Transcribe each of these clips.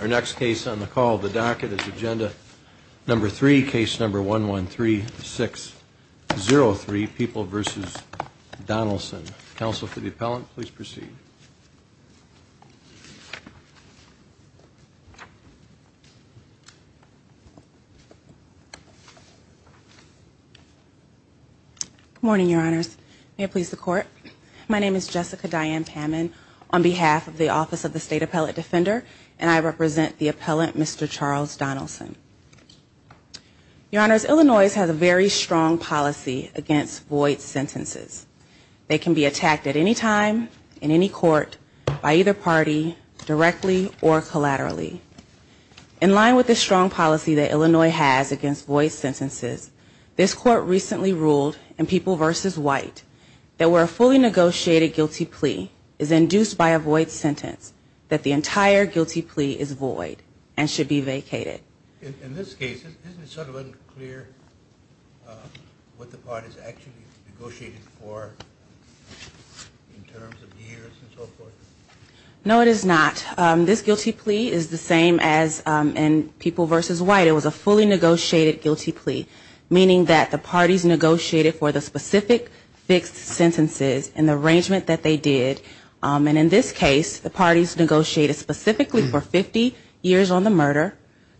Our next case on the call of the docket is agenda number three, case number 113603, People v. Donelson. Counsel for the appellant, please proceed. Good morning, Your Honors. May it please the Court. My name is Jessica Diane Pammon on behalf of the Office of the State Appellate Defender, and I represent the appellant, Mr. Charles Donelson. Your Honors, Illinois has a very strong policy against void sentences. They can be attacked at any time, in any court, by either party, directly or collaterally. In line with this strong policy that Illinois has against void sentences, this Court recently ruled in People v. White that where a fully negotiated guilty plea is induced by a void sentence, that the entire guilty plea is void and should be vacated. In this case, isn't it sort of unclear what the parties actually negotiated for in terms of years and so forth? No, it is not. This guilty plea is the same as in People v. White. It was a fully negotiated guilty plea, meaning that the parties negotiated for the specific fixed sentences in the arrangement that they did. And in this case, the parties negotiated specifically for 50 years on the murder,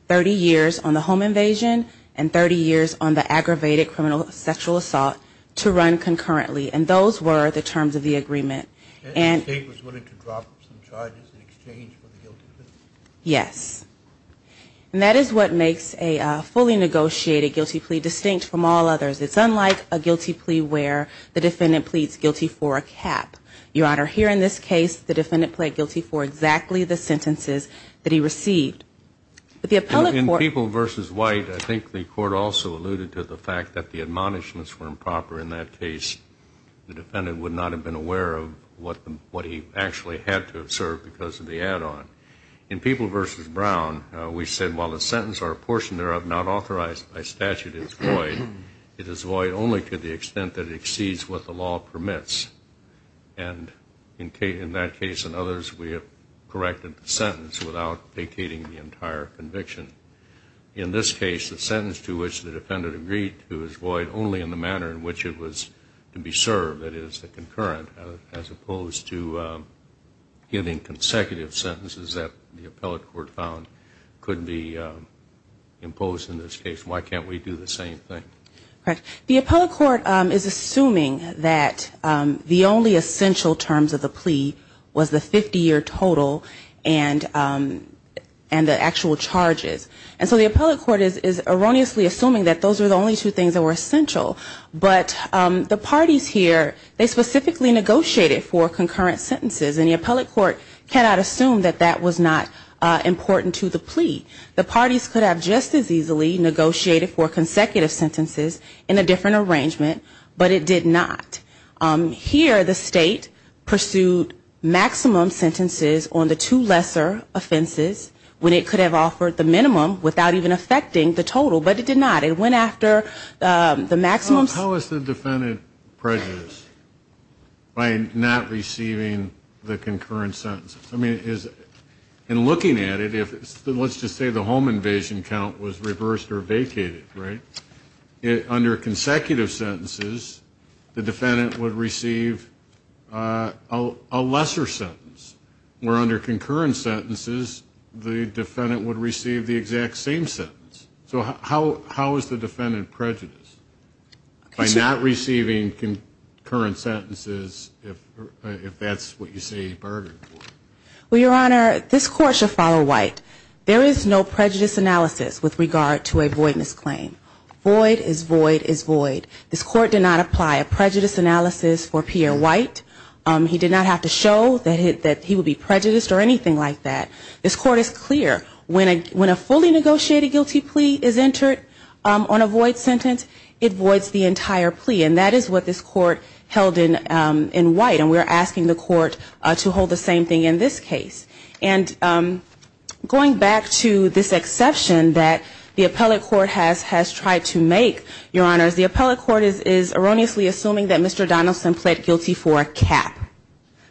30 years on the home invasion, and 30 years on the aggravated criminal sexual assault to run concurrently. And those were the terms of the agreement. And the State was willing to drop some charges in exchange for the guilty plea? Yes. And that is what makes a fully negotiated guilty plea distinct from all others. It's unlike a guilty plea where the defendant pleads guilty for a cap. Your Honor, here in this case, the defendant pled guilty for exactly the sentences that he received. In People v. White, I think the Court also alluded to the fact that the admonishments were improper. In that case, the defendant would not have been aware of what he actually had to have served because of the add-on. In People v. Brown, we said while the sentence or a portion thereof not authorized by statute is void, it is void only to the extent that it exceeds what the law permits. And in that case and others, we have corrected the sentence without vacating the entire conviction. In this case, the sentence to which the defendant agreed to is void only in the manner in which it was to be served, that is, the concurrent, as opposed to giving consecutive sentences that the appellate court found could be imposed in this case. Why can't we do the same thing? The appellate court is assuming that the only essential terms of the plea was the 50-year total and the actual charges. And so the appellate court is erroneously assuming that those are the only two things that were essential. But the parties here, they specifically negotiated for concurrent sentences, and the appellate court cannot assume that that was not important to the plea. The parties could have just as easily negotiated for consecutive sentences in a different arrangement, but it did not. Here, the state pursued maximum sentences on the two lesser offenses when it could have offered the minimum without even affecting the total, but it did not. It went after the maximum. How is the defendant prejudiced by not receiving the concurrent sentences? I mean, in looking at it, let's just say the home invasion count was reversed or vacated, right? Under consecutive sentences, the defendant would receive a lesser sentence, where under concurrent sentences, the defendant would receive the exact same sentence. So how is the defendant prejudiced by not receiving concurrent sentences if that's what you say he bargained for? Well, Your Honor, this court should follow White. There is no prejudice analysis with regard to a voidness claim. Void is void is void. This court did not apply a prejudice analysis for Pierre White. He did not have to show that he would be prejudiced or anything like that. This court is clear. When a fully negotiated guilty plea is entered on a void sentence, it voids the entire plea. And that is what this court held in White, and we are asking the court to hold the same thing in this case. And going back to this exception that the appellate court has tried to make, Your Honor, the appellate court is erroneously assuming that Mr. Donaldson pled guilty for a cap,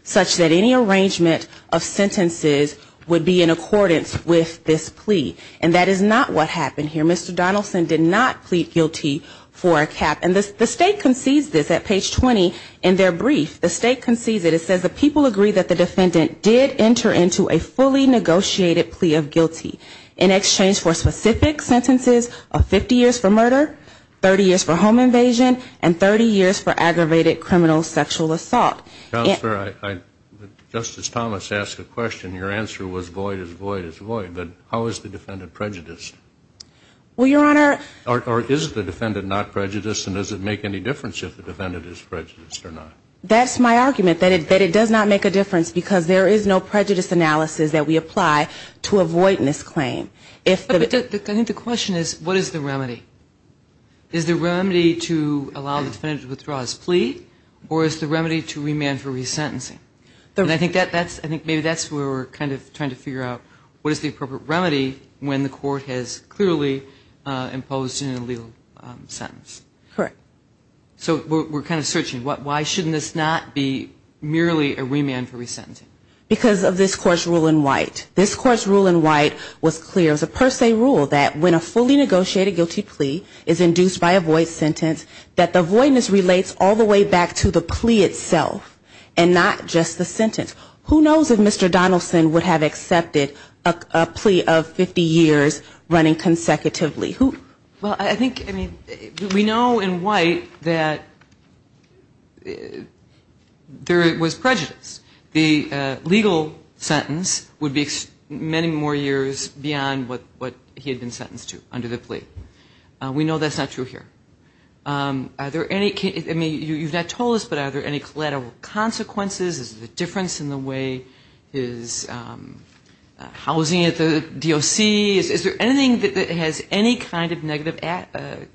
such that any arrangement of sentences would be in accordance with this plea. And that is not what happened here. Mr. Donaldson did not plead guilty for a cap. And the State concedes this at page 20 in their brief. The State concedes that it says the people agree that the defendant did enter into a fully negotiated plea of guilty in exchange for specific sentences of 50 years for murder, 30 years for home invasion, and 30 years for aggravated criminal sexual assault. Justice Thomas asked a question. Your answer was void is void is void. But how is the defendant prejudiced? Well, Your Honor. Or is the defendant not prejudiced, and does it make any difference if the defendant is prejudiced or not? That's my argument, that it does not make a difference because there is no prejudice analysis that we apply to avoid this claim. I think the question is what is the remedy? Is the remedy to allow the defendant to withdraw his plea, or is the remedy to remand for resentencing? And I think maybe that's where we're kind of trying to figure out what is the appropriate remedy when the court has clearly imposed an illegal sentence. Correct. So we're kind of searching. Why shouldn't this not be merely a remand for resentencing? Because of this Court's rule in White. This Court's rule in White was clear. It was a per se rule that when a fully negotiated guilty plea is induced by a void sentence, that the voidness relates all the way back to the plea itself and not just the sentence. Who knows if Mr. Donaldson would have accepted a plea of 50 years running consecutively? Well, I think, I mean, we know in White that there was prejudice. The legal sentence would be many more years beyond what he had been sentenced to under the plea. We know that's not true here. Are there any, I mean, you've not told us, but are there any collateral consequences? Is there a difference in the way his housing at the DOC? Is there anything that has any kind of negative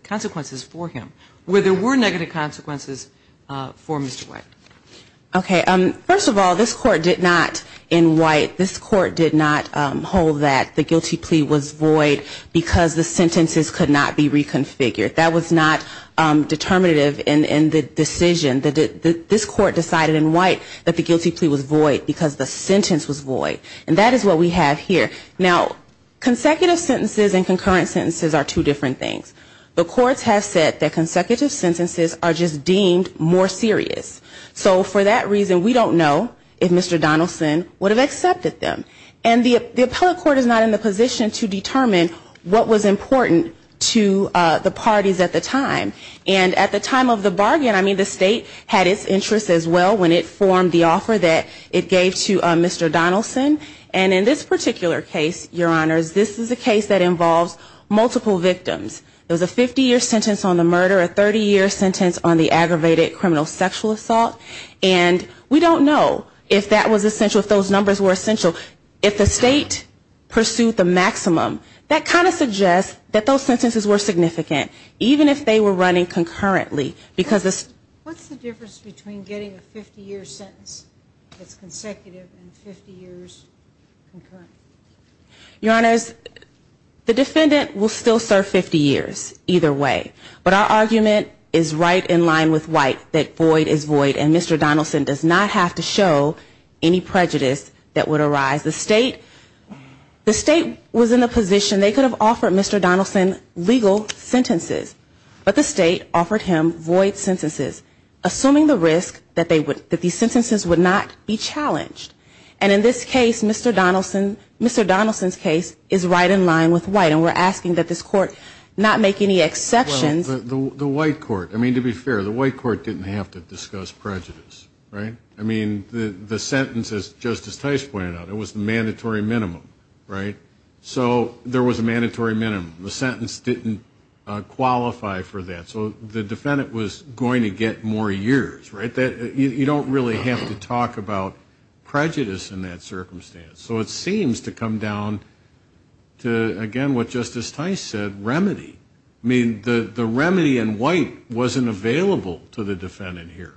consequences for him? Were there negative consequences for Mr. White? Okay. First of all, this Court did not in White, this Court did not hold that the guilty plea was void because the sentences could not be reconfigured. That was not determinative in the decision. This Court decided in White that the guilty plea was void because the sentence was void. And that is what we have here. Now, consecutive sentences and concurrent sentences are two different things. The courts have said that consecutive sentences are just deemed more serious. So for that reason, we don't know if Mr. Donaldson would have accepted them. And the appellate court is not in the position to determine what was important to the parties at the time. And at the time of the bargain, I mean, the state had its interest as well when it formed the offer that it gave to Mr. Donaldson. And in this particular case, Your Honors, this is a case that involves multiple victims. There was a 50-year sentence on the murder, a 30-year sentence on the aggravated criminal sexual assault. And we don't know if that was essential, if those numbers were essential. If the state pursued the maximum, that kind of suggests that those sentences were significant, even if they were running concurrently. What's the difference between getting a 50-year sentence that's consecutive and 50 years concurrent? Your Honors, the defendant will still serve 50 years either way. But our argument is right in line with White that void is void and Mr. Donaldson does not have to show any prejudice that would arise. The state was in a position, they could have offered Mr. Donaldson legal sentences. But the state offered him void sentences, assuming the risk that these sentences would not be challenged. And in this case, Mr. Donaldson's case is right in line with White. And we're asking that this Court not make any exceptions. Well, the White Court, I mean, to be fair, the White Court didn't have to discuss prejudice, right? I mean, the sentence, as Justice Tice pointed out, it was the mandatory minimum, right? So there was a mandatory minimum. The sentence didn't qualify for that. So the defendant was going to get more years, right? You don't really have to talk about prejudice in that circumstance. So it seems to come down to, again, what Justice Tice said, remedy. I mean, the remedy in White wasn't available to the defendant here.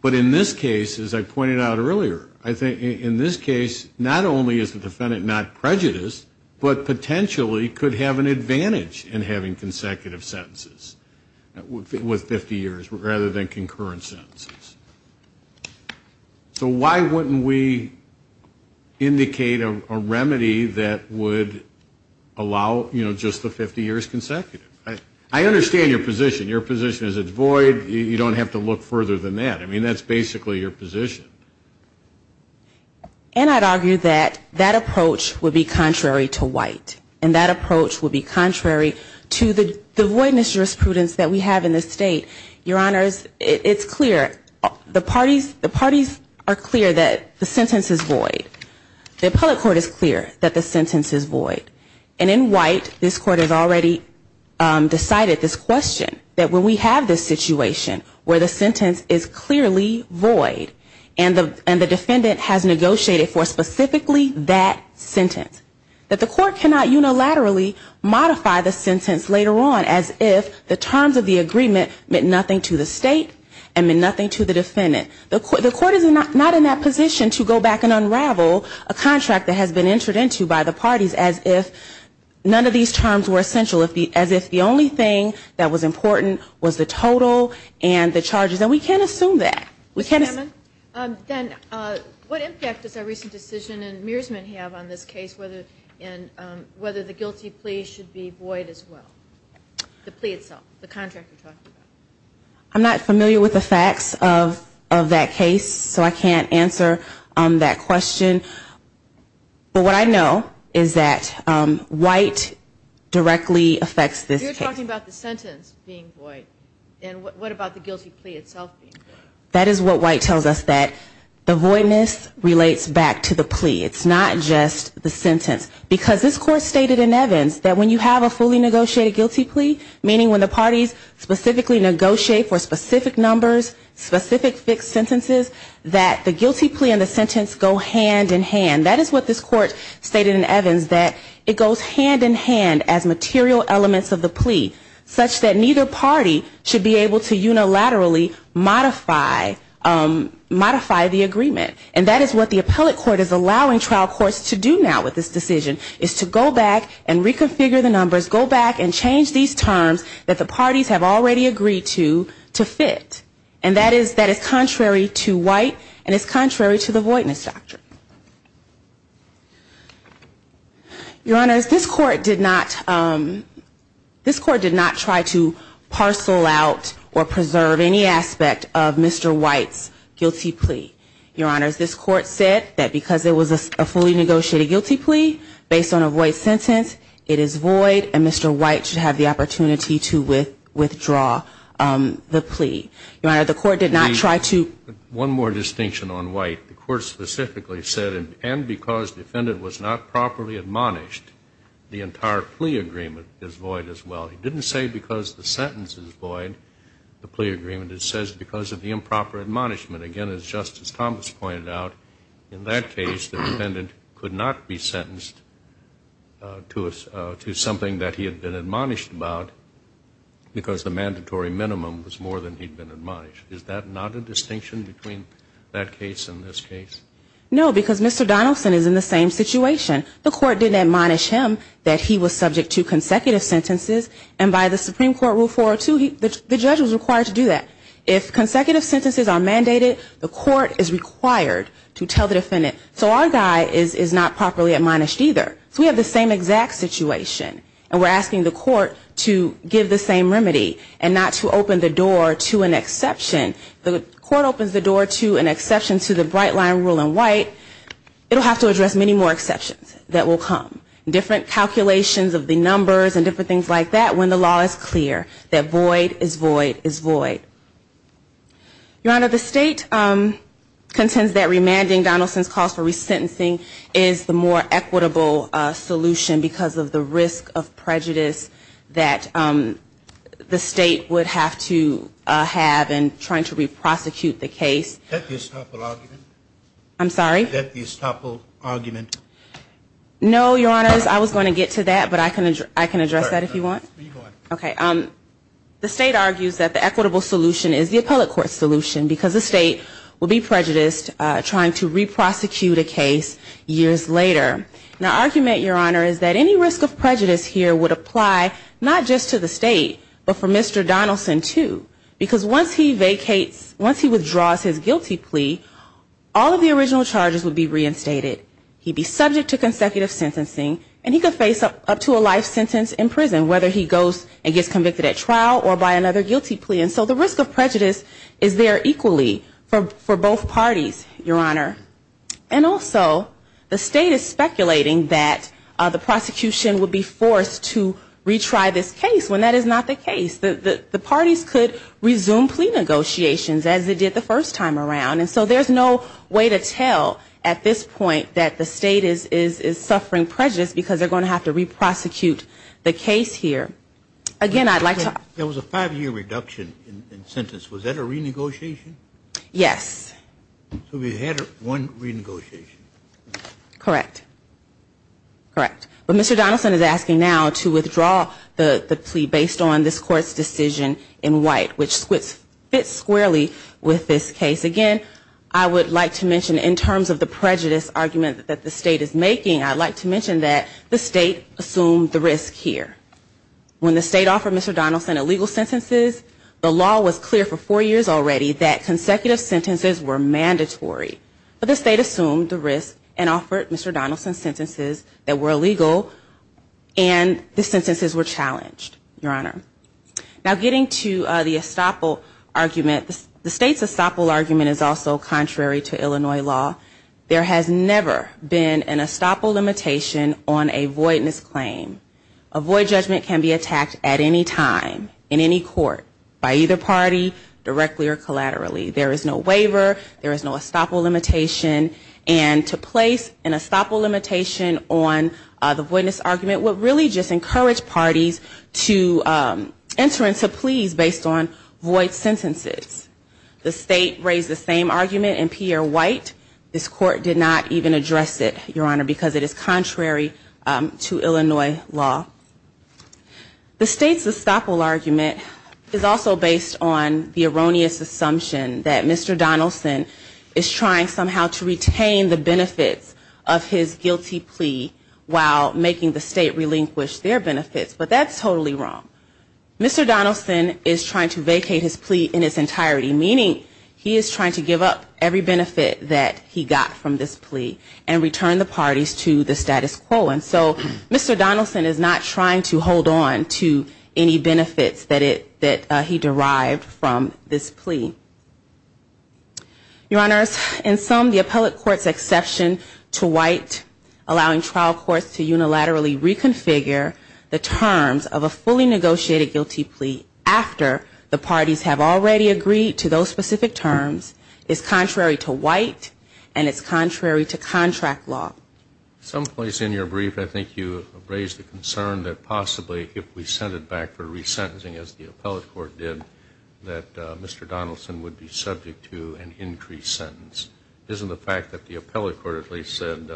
But in this case, as I pointed out earlier, I think in this case, not only is the defendant not prejudiced, but potentially could have an advantage in having consecutive sentences with 50 years rather than concurrent sentences. So why wouldn't we indicate a remedy that would allow, you know, just the 50 years consecutively? I understand your position. Your position is it's void. You don't have to look further than that. I mean, that's basically your position. And I'd argue that that approach would be contrary to White. And that approach would be contrary to the voidness jurisprudence that we have in this state. Your Honors, it's clear. The parties are clear that the sentence is void. The appellate court is clear that the sentence is void. And in White, this Court has already decided this question, that when we have this situation where the sentence is clearly void, and the defendant has negotiated for specifically that sentence, that the Court cannot unilaterally modify the sentence later on as if the terms of the agreement meant nothing to the State and meant nothing to the defendant. The Court is not in that position to go back and unravel a contract that has been entered into by the parties as if none of these terms were essential, as if the only thing that was important was the total and the charges. And we can't assume that. Ms. Hammond, then what impact does our recent decision in Mearsman have on this case and whether the guilty plea should be void as well, the plea itself, the contract you're talking about? I'm not familiar with the facts of that case, so I can't answer that question. But what I know is that White directly affects this case. You're talking about the sentence being void, and what about the guilty plea itself being void? That is what White tells us, that the voidness relates back to the plea. It's not just the sentence. Because this Court stated in Evans that when you have a fully negotiated guilty plea, meaning when the parties specifically negotiate for specific numbers, specific fixed sentences, that the guilty plea and the sentence go hand in hand. That is what this Court stated in Evans, that it goes hand in hand as material elements of the plea, such that neither party should be able to unilaterally modify the agreement. And that is what the appellate court is allowing trial courts to do now with this decision, is to go back and reconfigure the numbers, go back and change these terms that the parties have already agreed to, to fit. And that is contrary to White, and it's contrary to the voidness doctrine. Your Honors, this Court did not try to parcel out or preserve any aspect of Mr. White's guilty plea. Your Honors, this Court said that because it was a fully negotiated guilty plea based on a void sentence, it is void, and Mr. White should have the opportunity to go back and renegotiate that. Your Honor, the Court did not try to... One more distinction on White. The Court specifically said, and because defendant was not properly admonished, the entire plea agreement is void as well. It didn't say because the sentence is void, the plea agreement. It says because of the improper admonishment. Again, as Justice Thomas pointed out, in that case the defendant could not be sentenced to something that he had been admonished about, because the mandatory minimum was more than he had been admonished. Is that not a distinction between that case and this case? No, because Mr. Donaldson is in the same situation. The Court didn't admonish him that he was subject to consecutive sentences. And by the Supreme Court Rule 402, the judge was required to do that. If consecutive sentences are mandated, the Court is required to tell the defendant. So our guy is not properly admonished either. So we have the same exact situation, and we're asking the Court to give the same remedy and not to open the door to an exception. If the Court opens the door to an exception to the Bright Line Rule in white, it will have to address many more exceptions that will come. Different calculations of the numbers and different things like that when the law is clear, that void is void is void. Your Honor, the State contends that remanding Donaldson's cause for resentencing is the more equitable solution because of the risk of prejudice that the State would have to have in trying to re-prosecute the case. Is that the estoppel argument? No, Your Honor, I was going to get to that, but I can address that if you want. The State argues that the equitable solution is the appellate court solution because the State will be prejudiced trying to re-prosecute a case years later. Now argument, Your Honor, is that any risk of prejudice here would apply not just to the State, but for Mr. Donaldson too. Because once he vacates, once he withdraws his guilty plea, all of the original charges would be reinstated. He'd be subject to consecutive sentencing, and he could face up to a life sentence in prison, whether he goes and gets convicted at trial or by another guilty plea. And so the risk of prejudice is there equally for both parties, Your Honor. And also, the State is speculating that the prosecution would be forced to retry this case when that is not the case. The parties could resume plea negotiations as they did the first time around. And so there's no way to tell at this point that the State is suffering prejudice because they're going to have to re-prosecute the case here. Again, I'd like to... One renegotiation. Correct. Correct. But Mr. Donaldson is asking now to withdraw the plea based on this Court's decision in white, which fits squarely with this case. Again, I would like to mention in terms of the prejudice argument that the State is making, I'd like to mention that the State assumed the risk here. When the State offered Mr. Donaldson illegal sentences, the law was clear for four years already that consecutive sentences were mandatory. But the State assumed the risk and offered Mr. Donaldson sentences that were illegal, and the sentences were challenged, Your Honor. Now getting to the estoppel argument, the State's estoppel argument is also contrary to Illinois law. There has never been an estoppel limitation on a voidness claim. A void judgment can be attacked at any time in any court by either party, directly or collaterally. There is no waiver. There is no estoppel limitation. And to place an estoppel limitation on the voidness argument would really just encourage parties to enter into pleas based on void sentences. The State raised the same argument in Pierre White. This Court did not even address it, Your Honor, because it is contrary to Illinois law. The State's estoppel argument is also based on the erroneous assumption that Mr. Donaldson is trying somehow to retain the benefits of his guilty plea while making the State relinquish their benefits, but that's totally wrong. Mr. Donaldson is trying to vacate his plea in its entirety, meaning he is trying to give up every benefit that he got from this plea and return the parties to the status quo. And so Mr. Donaldson is not trying to hold on to any benefits that he derived from this plea. Your Honors, in sum, the appellate court's exception to White, allowing trial courts to unilaterally reconfigure the terms of a fully negotiated guilty plea after the parties have already agreed to those specific terms, is contrary to White and it's contrary to contract law. Some place in your brief I think you raised the concern that possibly if we sent it back for resentencing as the appellate court did, that Mr. Donaldson would be subject to an increased sentence. Isn't the fact that the appellate court at least said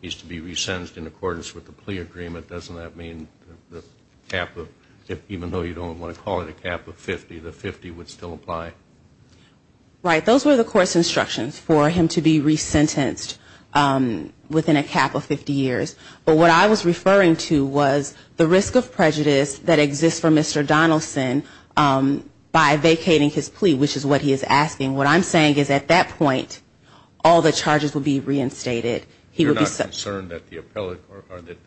he's to be resentenced in accordance with the plea agreement, doesn't that mean even though you don't want to call it a cap of 50, the 50 would still apply? Right, those were the court's instructions for him to be resentenced within a cap of 50 years. But what I was referring to was the risk of prejudice that exists for Mr. Donaldson by vacating his plea, which is what he is asking. What I'm saying is at that point, all the charges would be reinstated. You're not concerned that the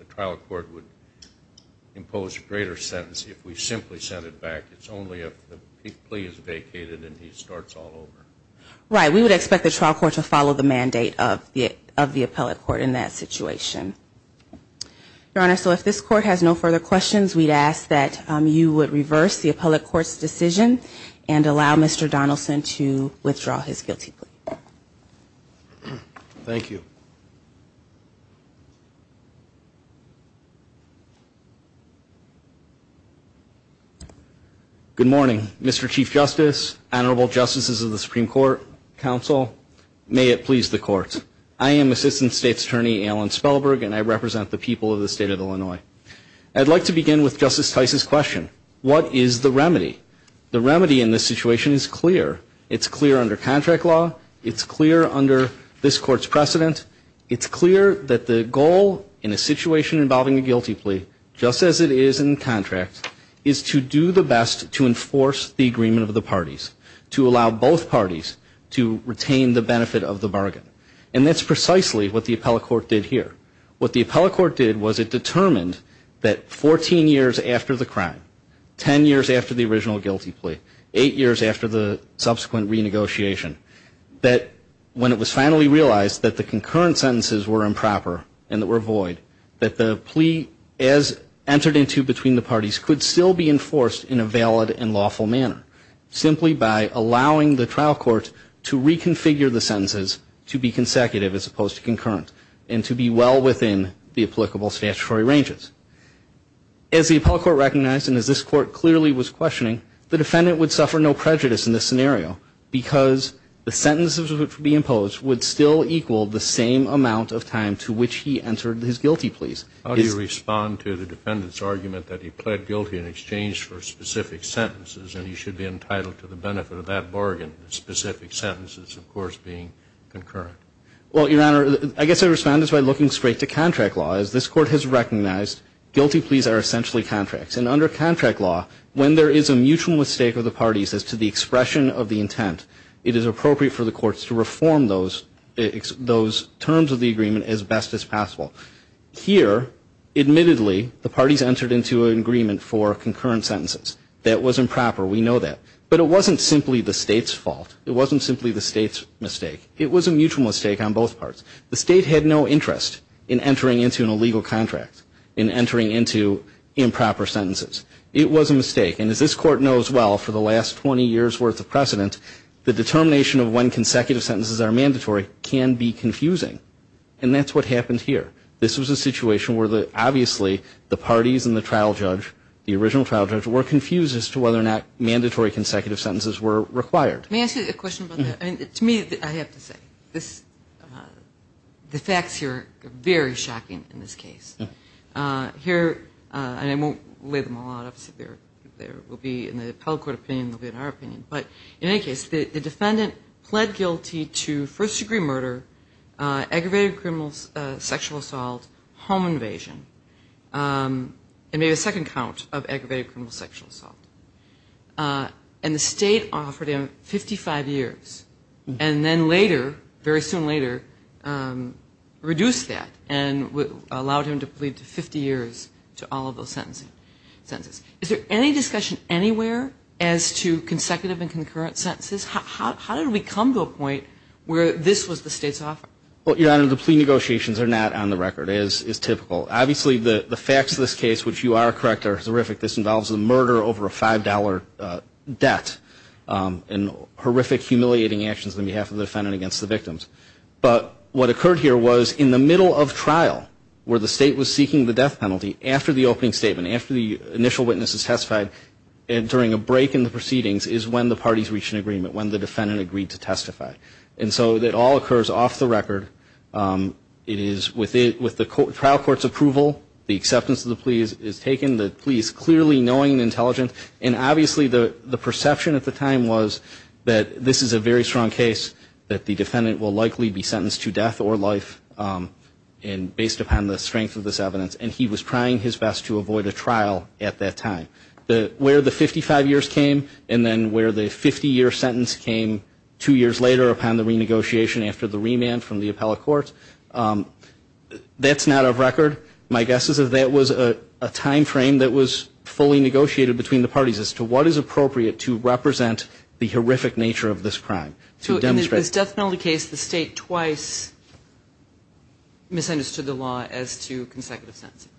trial court would impose a greater sentence if we simply sent it back? It's only if the plea is vacated and he starts all over. Right, we would expect the trial court to follow the mandate of the appellate court in that situation. Your Honor, so if this court has no further questions, we'd ask that you would reverse the appellate court's decision and allow Mr. Donaldson to withdraw his guilty plea. Thank you. Good morning, Mr. Chief Justice, Honorable Justices of the Supreme Court, Counsel, may it please the Court. I am Assistant State's Attorney Alan Spellberg and I represent the people of the state of Illinois. I'd like to begin with Justice Tice's question, what is the remedy? The remedy in this situation is clear. It's clear under contract law. It's clear under this court's precedent. It's clear that the goal in a situation involving a guilty plea, just as it is in contract, is to do the best to enforce the agreement of the parties, to allow both parties to retain the benefit of the bargain. And that's precisely what the appellate court did here. What the appellate court did was it determined that 14 years after the crime, 10 years after the original guilty plea, 8 years after the subsequent renegotiation, that when it was finally realized that the concurrent sentences were improper and that were void, that the plea as entered into between the parties could still be enforced in a valid and lawful manner, simply by allowing the trial court to reconfigure the sentences to be consecutive as opposed to concurrent and to be well within the applicable statutory ranges. As the appellate court recognized and as this court clearly was questioning, the defendant would suffer no prejudice in this scenario because the sentences which would be imposed would still equal the same amount of time to which he entered his guilty pleas. How do you respond to the defendant's argument that he pled guilty in exchange for specific sentences and he should be entitled to the benefit of that bargain, the specific sentences, of course, being concurrent? Well, Your Honor, I guess I respond just by looking straight to contract law. As this court has recognized, guilty pleas are essentially contracts. And under contract law, when there is a mutual mistake of the parties as to the expression of the intent, it is appropriate for the courts to reform those terms of the agreement as best as possible. Here, admittedly, the parties entered into an agreement for concurrent sentences. That was improper. We know that. But it wasn't simply the state's fault. It wasn't simply the state's mistake. It was a mutual mistake on both parts. The state had no interest in entering into an illegal contract, in entering into improper sentences. It was a mistake. And as this court knows well, for the last 20 years' worth of precedent, the determination of when consecutive sentences are mandatory can be confusing. And that's what happened here. This was a situation where, obviously, the parties and the trial judge, the original trial judge, were confused as to whether or not mandatory consecutive sentences were required. May I ask you a question about that? To me, I have to say, the facts here are very shocking in this case. And I won't lay them all out. Obviously, there will be, in the appellate court opinion, there will be in our opinion. But in any case, the defendant pled guilty to first-degree murder, aggravated criminal sexual assault, home invasion, and maybe a second count of aggravated criminal sexual assault. And the state offered him 55 years. And then later, very soon later, reduced that and allowed him to plead to 50 years to all of those sentences. Is there any discussion anywhere as to consecutive and concurrent sentences? How did we come to a point where this was the state's offer? Well, Your Honor, the plea negotiations are not on the record, as is typical. Obviously, the facts of this case, which you are correct, are horrific. This involves a murder over a $5 debt and horrific, humiliating actions on behalf of the defendant against the victims. But what occurred here was in the middle of trial, where the state was seeking the death penalty, after the opening statement, after the initial witnesses testified and during a break in the proceedings, is when the parties reached an agreement, when the defendant agreed to testify. And so it all occurs off the record. It is with the trial court's approval, the acceptance of the plea is taken, the plea is clearly knowing and intelligent. And obviously, the perception at the time was that this is a very strong case, that the defendant will likely be sentenced to death or life based upon the strength of this evidence. And he was trying his best to avoid a trial at that time. Where the 55 years came and then where the 50-year sentence came two years later upon the renegotiation after the remand from the appellate courts, that's not off record. My guess is that that was a timeframe that was fully negotiated between the parties as to what is appropriate to represent the horrific nature of this crime. So in this death penalty case, the state twice misunderstood the law as to consecutive sentencing?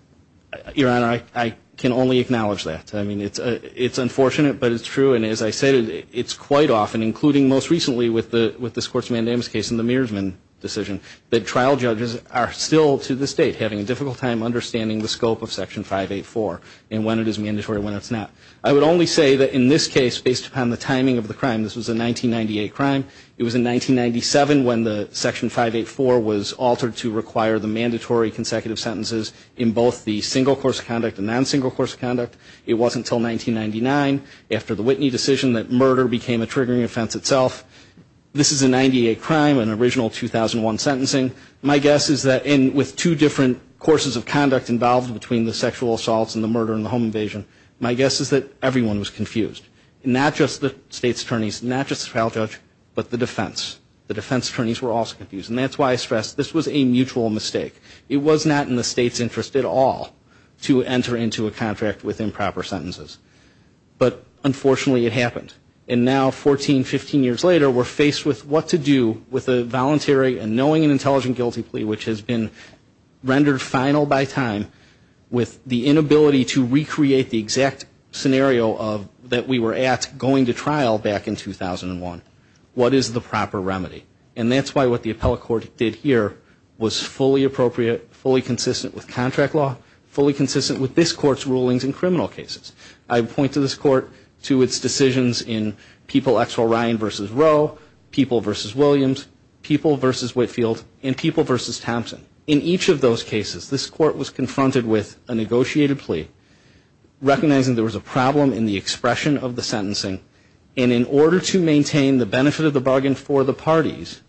Your Honor, I can only acknowledge that. I mean, it's unfortunate, but it's true. And as I said, it's quite often, including most recently with the Scortsman and Amos case and the Mearsman decision, that trial judges are still to this date having a difficult time understanding the scope of Section 584 and when it is mandatory and when it's not. I would only say that in this case, based upon the timing of the crime, this was a 1998 crime. It was in 1997 when the Section 584 was altered to require the mandatory consecutive sentences in both the single course of conduct and non-single course of conduct. It wasn't until 1999 after the Whitney decision that murder became a triggering offense itself. This is a 1998 crime, an original 2001 sentencing. My guess is that with two different courses of conduct involved between the sexual assaults and the murder and the home invasion, my guess is that everyone was confused. Not just the state's attorneys, not just the trial judge, but the defense. The defense attorneys were also confused. And that's why I stress this was a mutual mistake. It was not in the state's interest at all to enter into a contract with improper sentences. But unfortunately it happened. And now 14, 15 years later we're faced with what to do with a voluntary and knowing and intelligent guilty plea which has been rendered final by time with the inability to recreate the exact scenario that we were at going to trial back in 2001. What is the proper remedy? And that's why what the appellate court did here was fully appropriate, fully consistent with contract law, fully consistent with this court's rulings in criminal cases. I point to this court, to its decisions in People v. O'Ryan v. Roe, People v. Williams, People v. Whitefield, and People v. Thompson. In each of those cases this court was confronted with a negotiated plea, recognizing there was a problem in the expression of the sentencing, and in order to maintain the benefit of the bargain for the parties,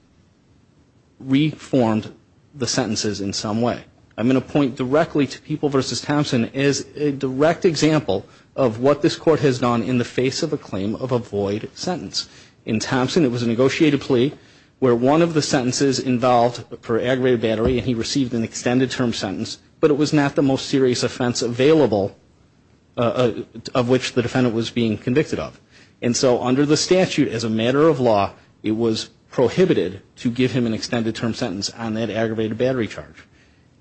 reformed the sentences in some way. I'm going to point directly to People v. Thompson as a direct example of what this court has done in the face of a claim of a void sentence. In Thompson it was a negotiated plea where one of the sentences involved per aggravated battery and he received an extended term sentence, but it was not the most serious offense available of which the defendant was being convicted of. And so under the statute as a matter of law, it was prohibited to give him an extended term sentence on that aggravated battery charge.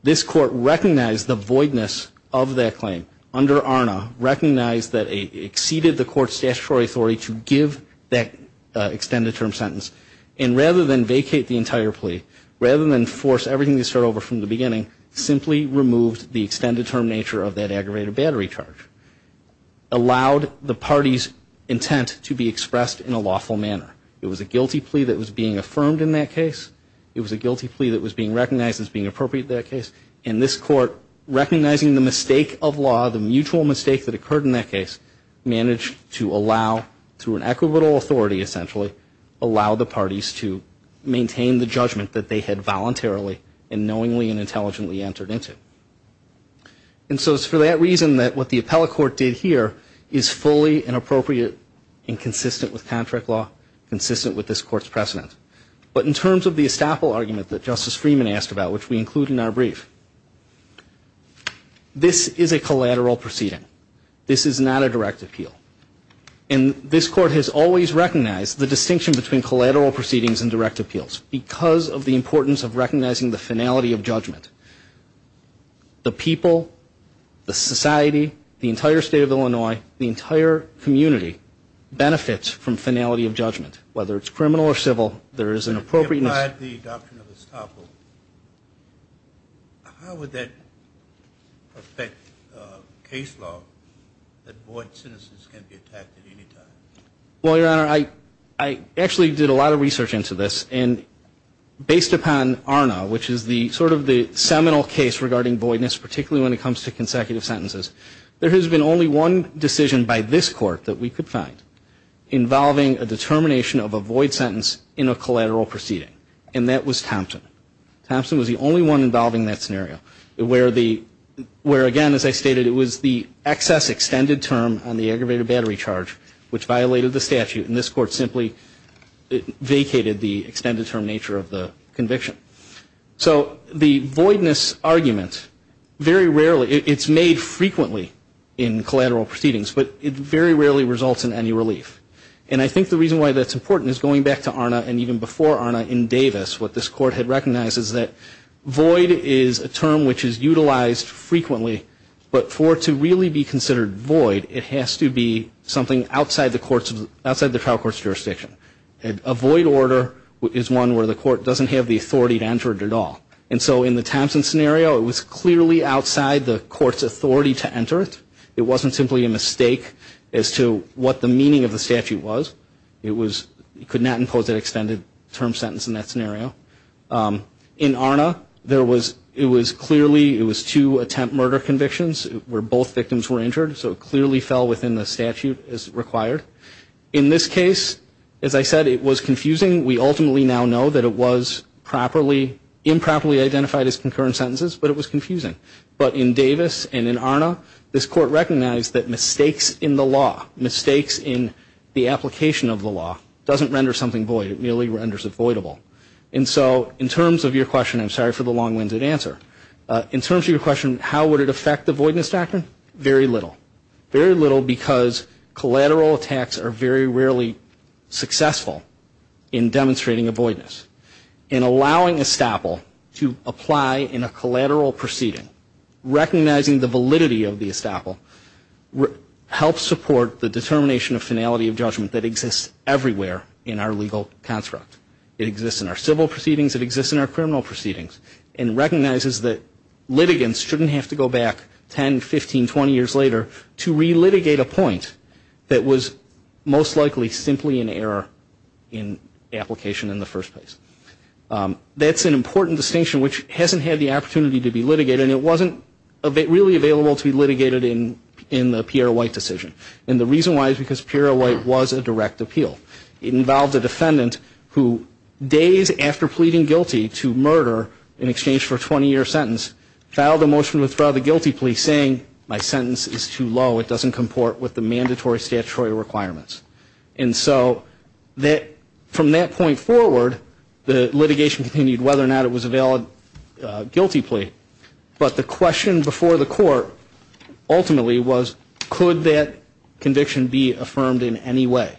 This court recognized the voidness of that claim under ARNA, recognized that it exceeded the court's statutory authority to give that extended term sentence, and rather than vacate the entire plea, rather than force everything to start over from the beginning, simply removed the extended term nature of that aggravated battery charge, allowed the party's intent to be expressed in a lawful manner. It was a guilty plea that was being affirmed in that case. It was a guilty plea that was being recognized as being appropriate in that case. And this court, recognizing the mistake of law, the mutual mistake that occurred in that case, managed to allow, through an equitable authority essentially, allow the parties to maintain the judgment that they had voluntarily and knowingly and intelligently entered into. And so it's for that reason that what the appellate court did here is fully and appropriate and consistent with contract law, consistent with this court's precedent. But in terms of the estoppel argument that Justice Freeman asked about, which we include in our brief, this is a collateral proceeding. This is not a direct appeal. And this court has always recognized the distinction between collateral proceedings and direct appeals The people, the society, the entire state of Illinois, the entire community benefits from finality of judgment. Whether it's criminal or civil, there is an appropriate... If you applied the adoption of estoppel, how would that affect case law that void citizens can be attacked at any time? Well, Your Honor, I actually did a lot of research into this. And based upon ARNA, which is sort of the seminal case regarding voidness, particularly when it comes to consecutive sentences, there has been only one decision by this court that we could find involving a determination of a void sentence in a collateral proceeding, and that was Thompson. Thompson was the only one involving that scenario, where again, as I stated, it was the excess extended term on the aggravated battery charge, which violated the statute. And this court simply vacated the extended term nature of the conviction. So the voidness argument, very rarely, it's made frequently in collateral proceedings, but it very rarely results in any relief. And I think the reason why that's important is going back to ARNA and even before ARNA in Davis, what this court had recognized is that void is a term which is utilized frequently, but for it to really be considered void, it has to be something outside the trial court's jurisdiction. A void order is one where the court doesn't have the authority to enter it at all. And so in the Thompson scenario, it was clearly outside the court's authority to enter it. It wasn't simply a mistake as to what the meaning of the statute was. It could not impose an extended term sentence in that scenario. In ARNA, there was, it was clearly, it was two attempt murder convictions where both victims were injured, so it clearly fell within the statute as required. In this case, as I said, it was confusing. We ultimately now know that it was improperly identified as concurrent sentences, but it was confusing. But in Davis and in ARNA, this court recognized that mistakes in the law, mistakes in the application of the law, doesn't render something void. It merely renders it voidable. And so in terms of your question, I'm sorry for the long-winded answer. In terms of your question, how would it affect the voidness doctrine, very little. Very little because collateral attacks are very rarely successful in demonstrating a voidness. And allowing estoppel to apply in a collateral proceeding, recognizing the validity of the estoppel, helps support the determination of finality of judgment that exists everywhere in our legal construct. It exists in our civil proceedings. It exists in our criminal proceedings. And recognizes that litigants shouldn't have to go back 10, 15, 20 years later to relitigate a point that was most likely simply an error in application in the first place. That's an important distinction which hasn't had the opportunity to be litigated, and it wasn't really available to be litigated in the Pierre White decision. And the reason why is because Pierre White was a direct appeal. It involved a defendant who, days after pleading guilty to murder in exchange for a 20-year sentence, filed a motion to withdraw the guilty plea saying, my sentence is too low. It doesn't comport with the mandatory statutory requirements. And so from that point forward, the litigation continued whether or not it was a valid guilty plea. But the question before the court ultimately was, could that conviction be affirmed in any way?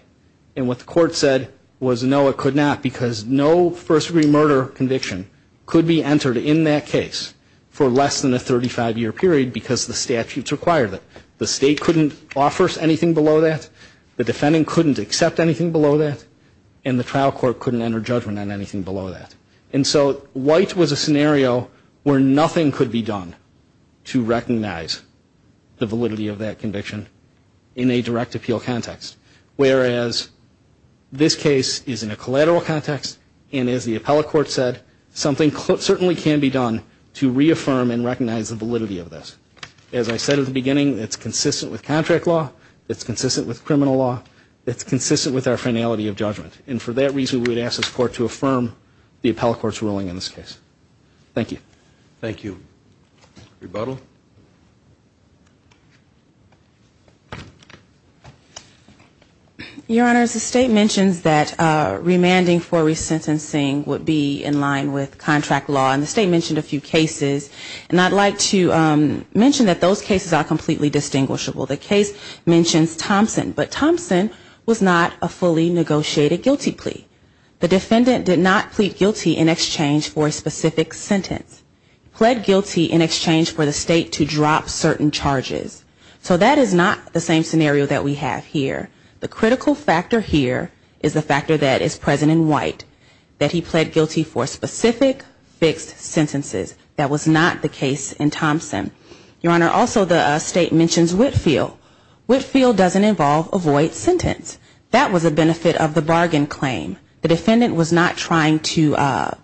And what the court said was, no, it could not, because no first-degree murder conviction could be entered in that case for less than a 35-year period because the statutes required it. The state couldn't offer anything below that. The defendant couldn't accept anything below that, and the trial court couldn't enter judgment on anything below that. And so White was a scenario where nothing could be done to recognize the validity of that conviction in a direct appeal context, whereas this case is in a collateral context, and as the appellate court said, something certainly can be done to reaffirm and recognize the validity of this. As I said at the beginning, it's consistent with contract law. It's consistent with criminal law. It's consistent with our finality of judgment. And for that reason, we would ask this court to affirm the appellate court's ruling in this case. Thank you. Thank you. Rebuttal. Your Honors, the state mentions that remanding for resentencing would be in line with contract law, and the state mentioned a few cases. And I'd like to mention that those cases are completely distinguishable. The case mentions Thompson, but Thompson was not a fully negotiated guilty plea. The defendant did not plead guilty in exchange for a specific sentence. He pled guilty in exchange for the state to drop certain charges. So that is not the same scenario that we have here. The critical factor here is the factor that is present in White, that he pled guilty for specific fixed sentences. That was not the case in Thompson. Your Honor, also the state mentions Whitfield. Whitfield doesn't involve a void sentence. That was a benefit of the bargain claim. The defendant was not trying to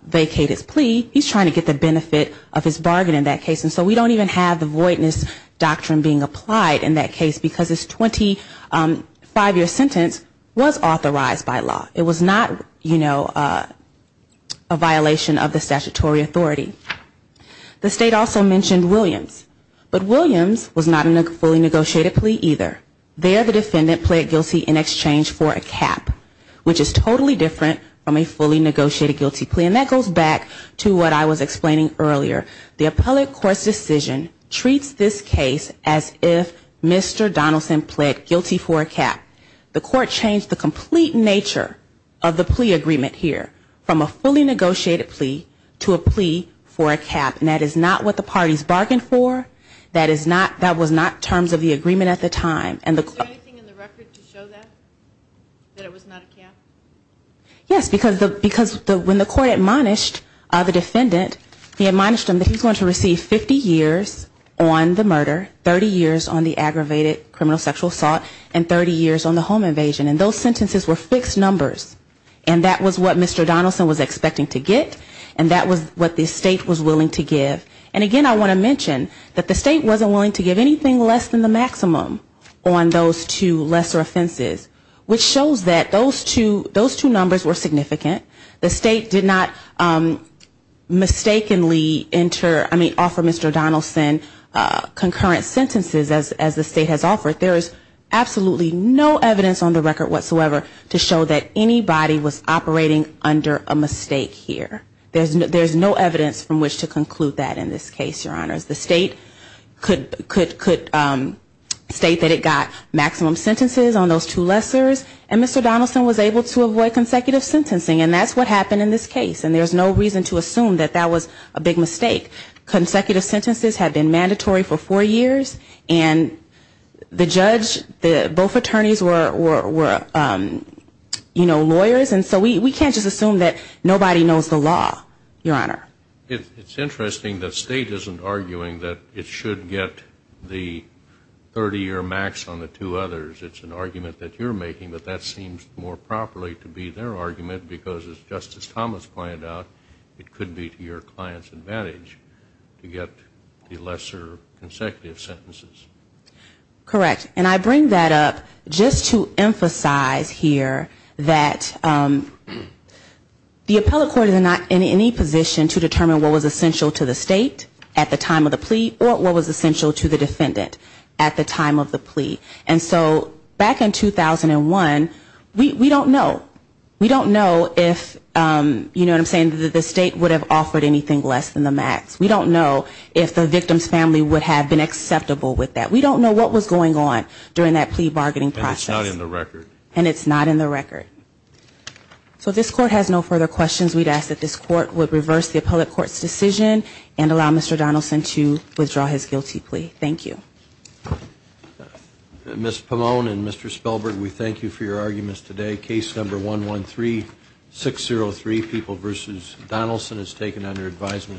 vacate his plea. He's trying to get the benefit of his bargain in that case. And so we don't even have the voidness doctrine being applied in that case, because his 25-year sentence was authorized by law. It was not, you know, a violation of the statutory authority. The state also mentioned Williams. But Williams was not a fully negotiated plea either. There the defendant pled guilty in exchange for a cap, which is totally different from a fully negotiated guilty plea. And that goes back to what I was explaining earlier. The appellate court's decision treats this case as if Mr. Donaldson pled guilty for a cap. The court changed the complete nature of the plea agreement here, from a fully negotiated plea to a plea for a cap. And that is not what the parties bargained for. That was not terms of the agreement at the time. And the court Is there anything in the record to show that, that it was not a cap? Yes, because when the court admonished the defendant, he admonished him that he's going to receive 50 years on the murder, 30 years on the aggravated criminal sexual assault, and 30 years on the home invasion. And those sentences were fixed numbers. And that was what Mr. Donaldson was expecting to get, and that was what the state was willing to give. And again, I want to mention that the state wasn't willing to give anything less than the maximum on those two lesser offenses, which shows that those two numbers were significant. The state did not mistakenly enter, I mean, offer Mr. Donaldson concurrent sentences as the state has offered. There is absolutely no evidence on the record whatsoever to show that anybody was operating under a mistake here. There's no evidence from which to conclude that in this case, Your Honors. The state could state that it got maximum sentences on those two lessors, and Mr. Donaldson was able to avoid consecutive sentencing, and that's what happened in this case. And there's no reason to assume that that was a big mistake. Consecutive sentences had been mandatory for four years, and the judge, both attorneys were, you know, lawyers. And so we can't just assume that nobody knows the law, Your Honor. It's interesting that state isn't arguing that it should get the 30 or max on the two others. It's an argument that you're making, but that seems more properly to be their argument, because as Justice Thomas pointed out, it could be to your client's advantage to get the lesser consecutive sentences. Correct. And I bring that up just to emphasize here that the appellate court is not in any position to determine what was essential to the state at the time of the plea or what was essential to the defendant at the time of the plea. And so back in 2001, we don't know. We don't know if, you know what I'm saying, that the state would have offered anything less than the max. We don't know if the victim's family would have been acceptable with that. We don't know what was going on during that plea bargaining process. And it's not in the record. And it's not in the record. So this court has no further questions. We'd ask that this court would reverse the appellate court's decision and allow Mr. Donaldson to withdraw his guilty plea. Thank you. Ms. Pomone and Mr. Spellberg, we thank you for your arguments today. Case number 113603, People v. Donaldson, is taken under advisement.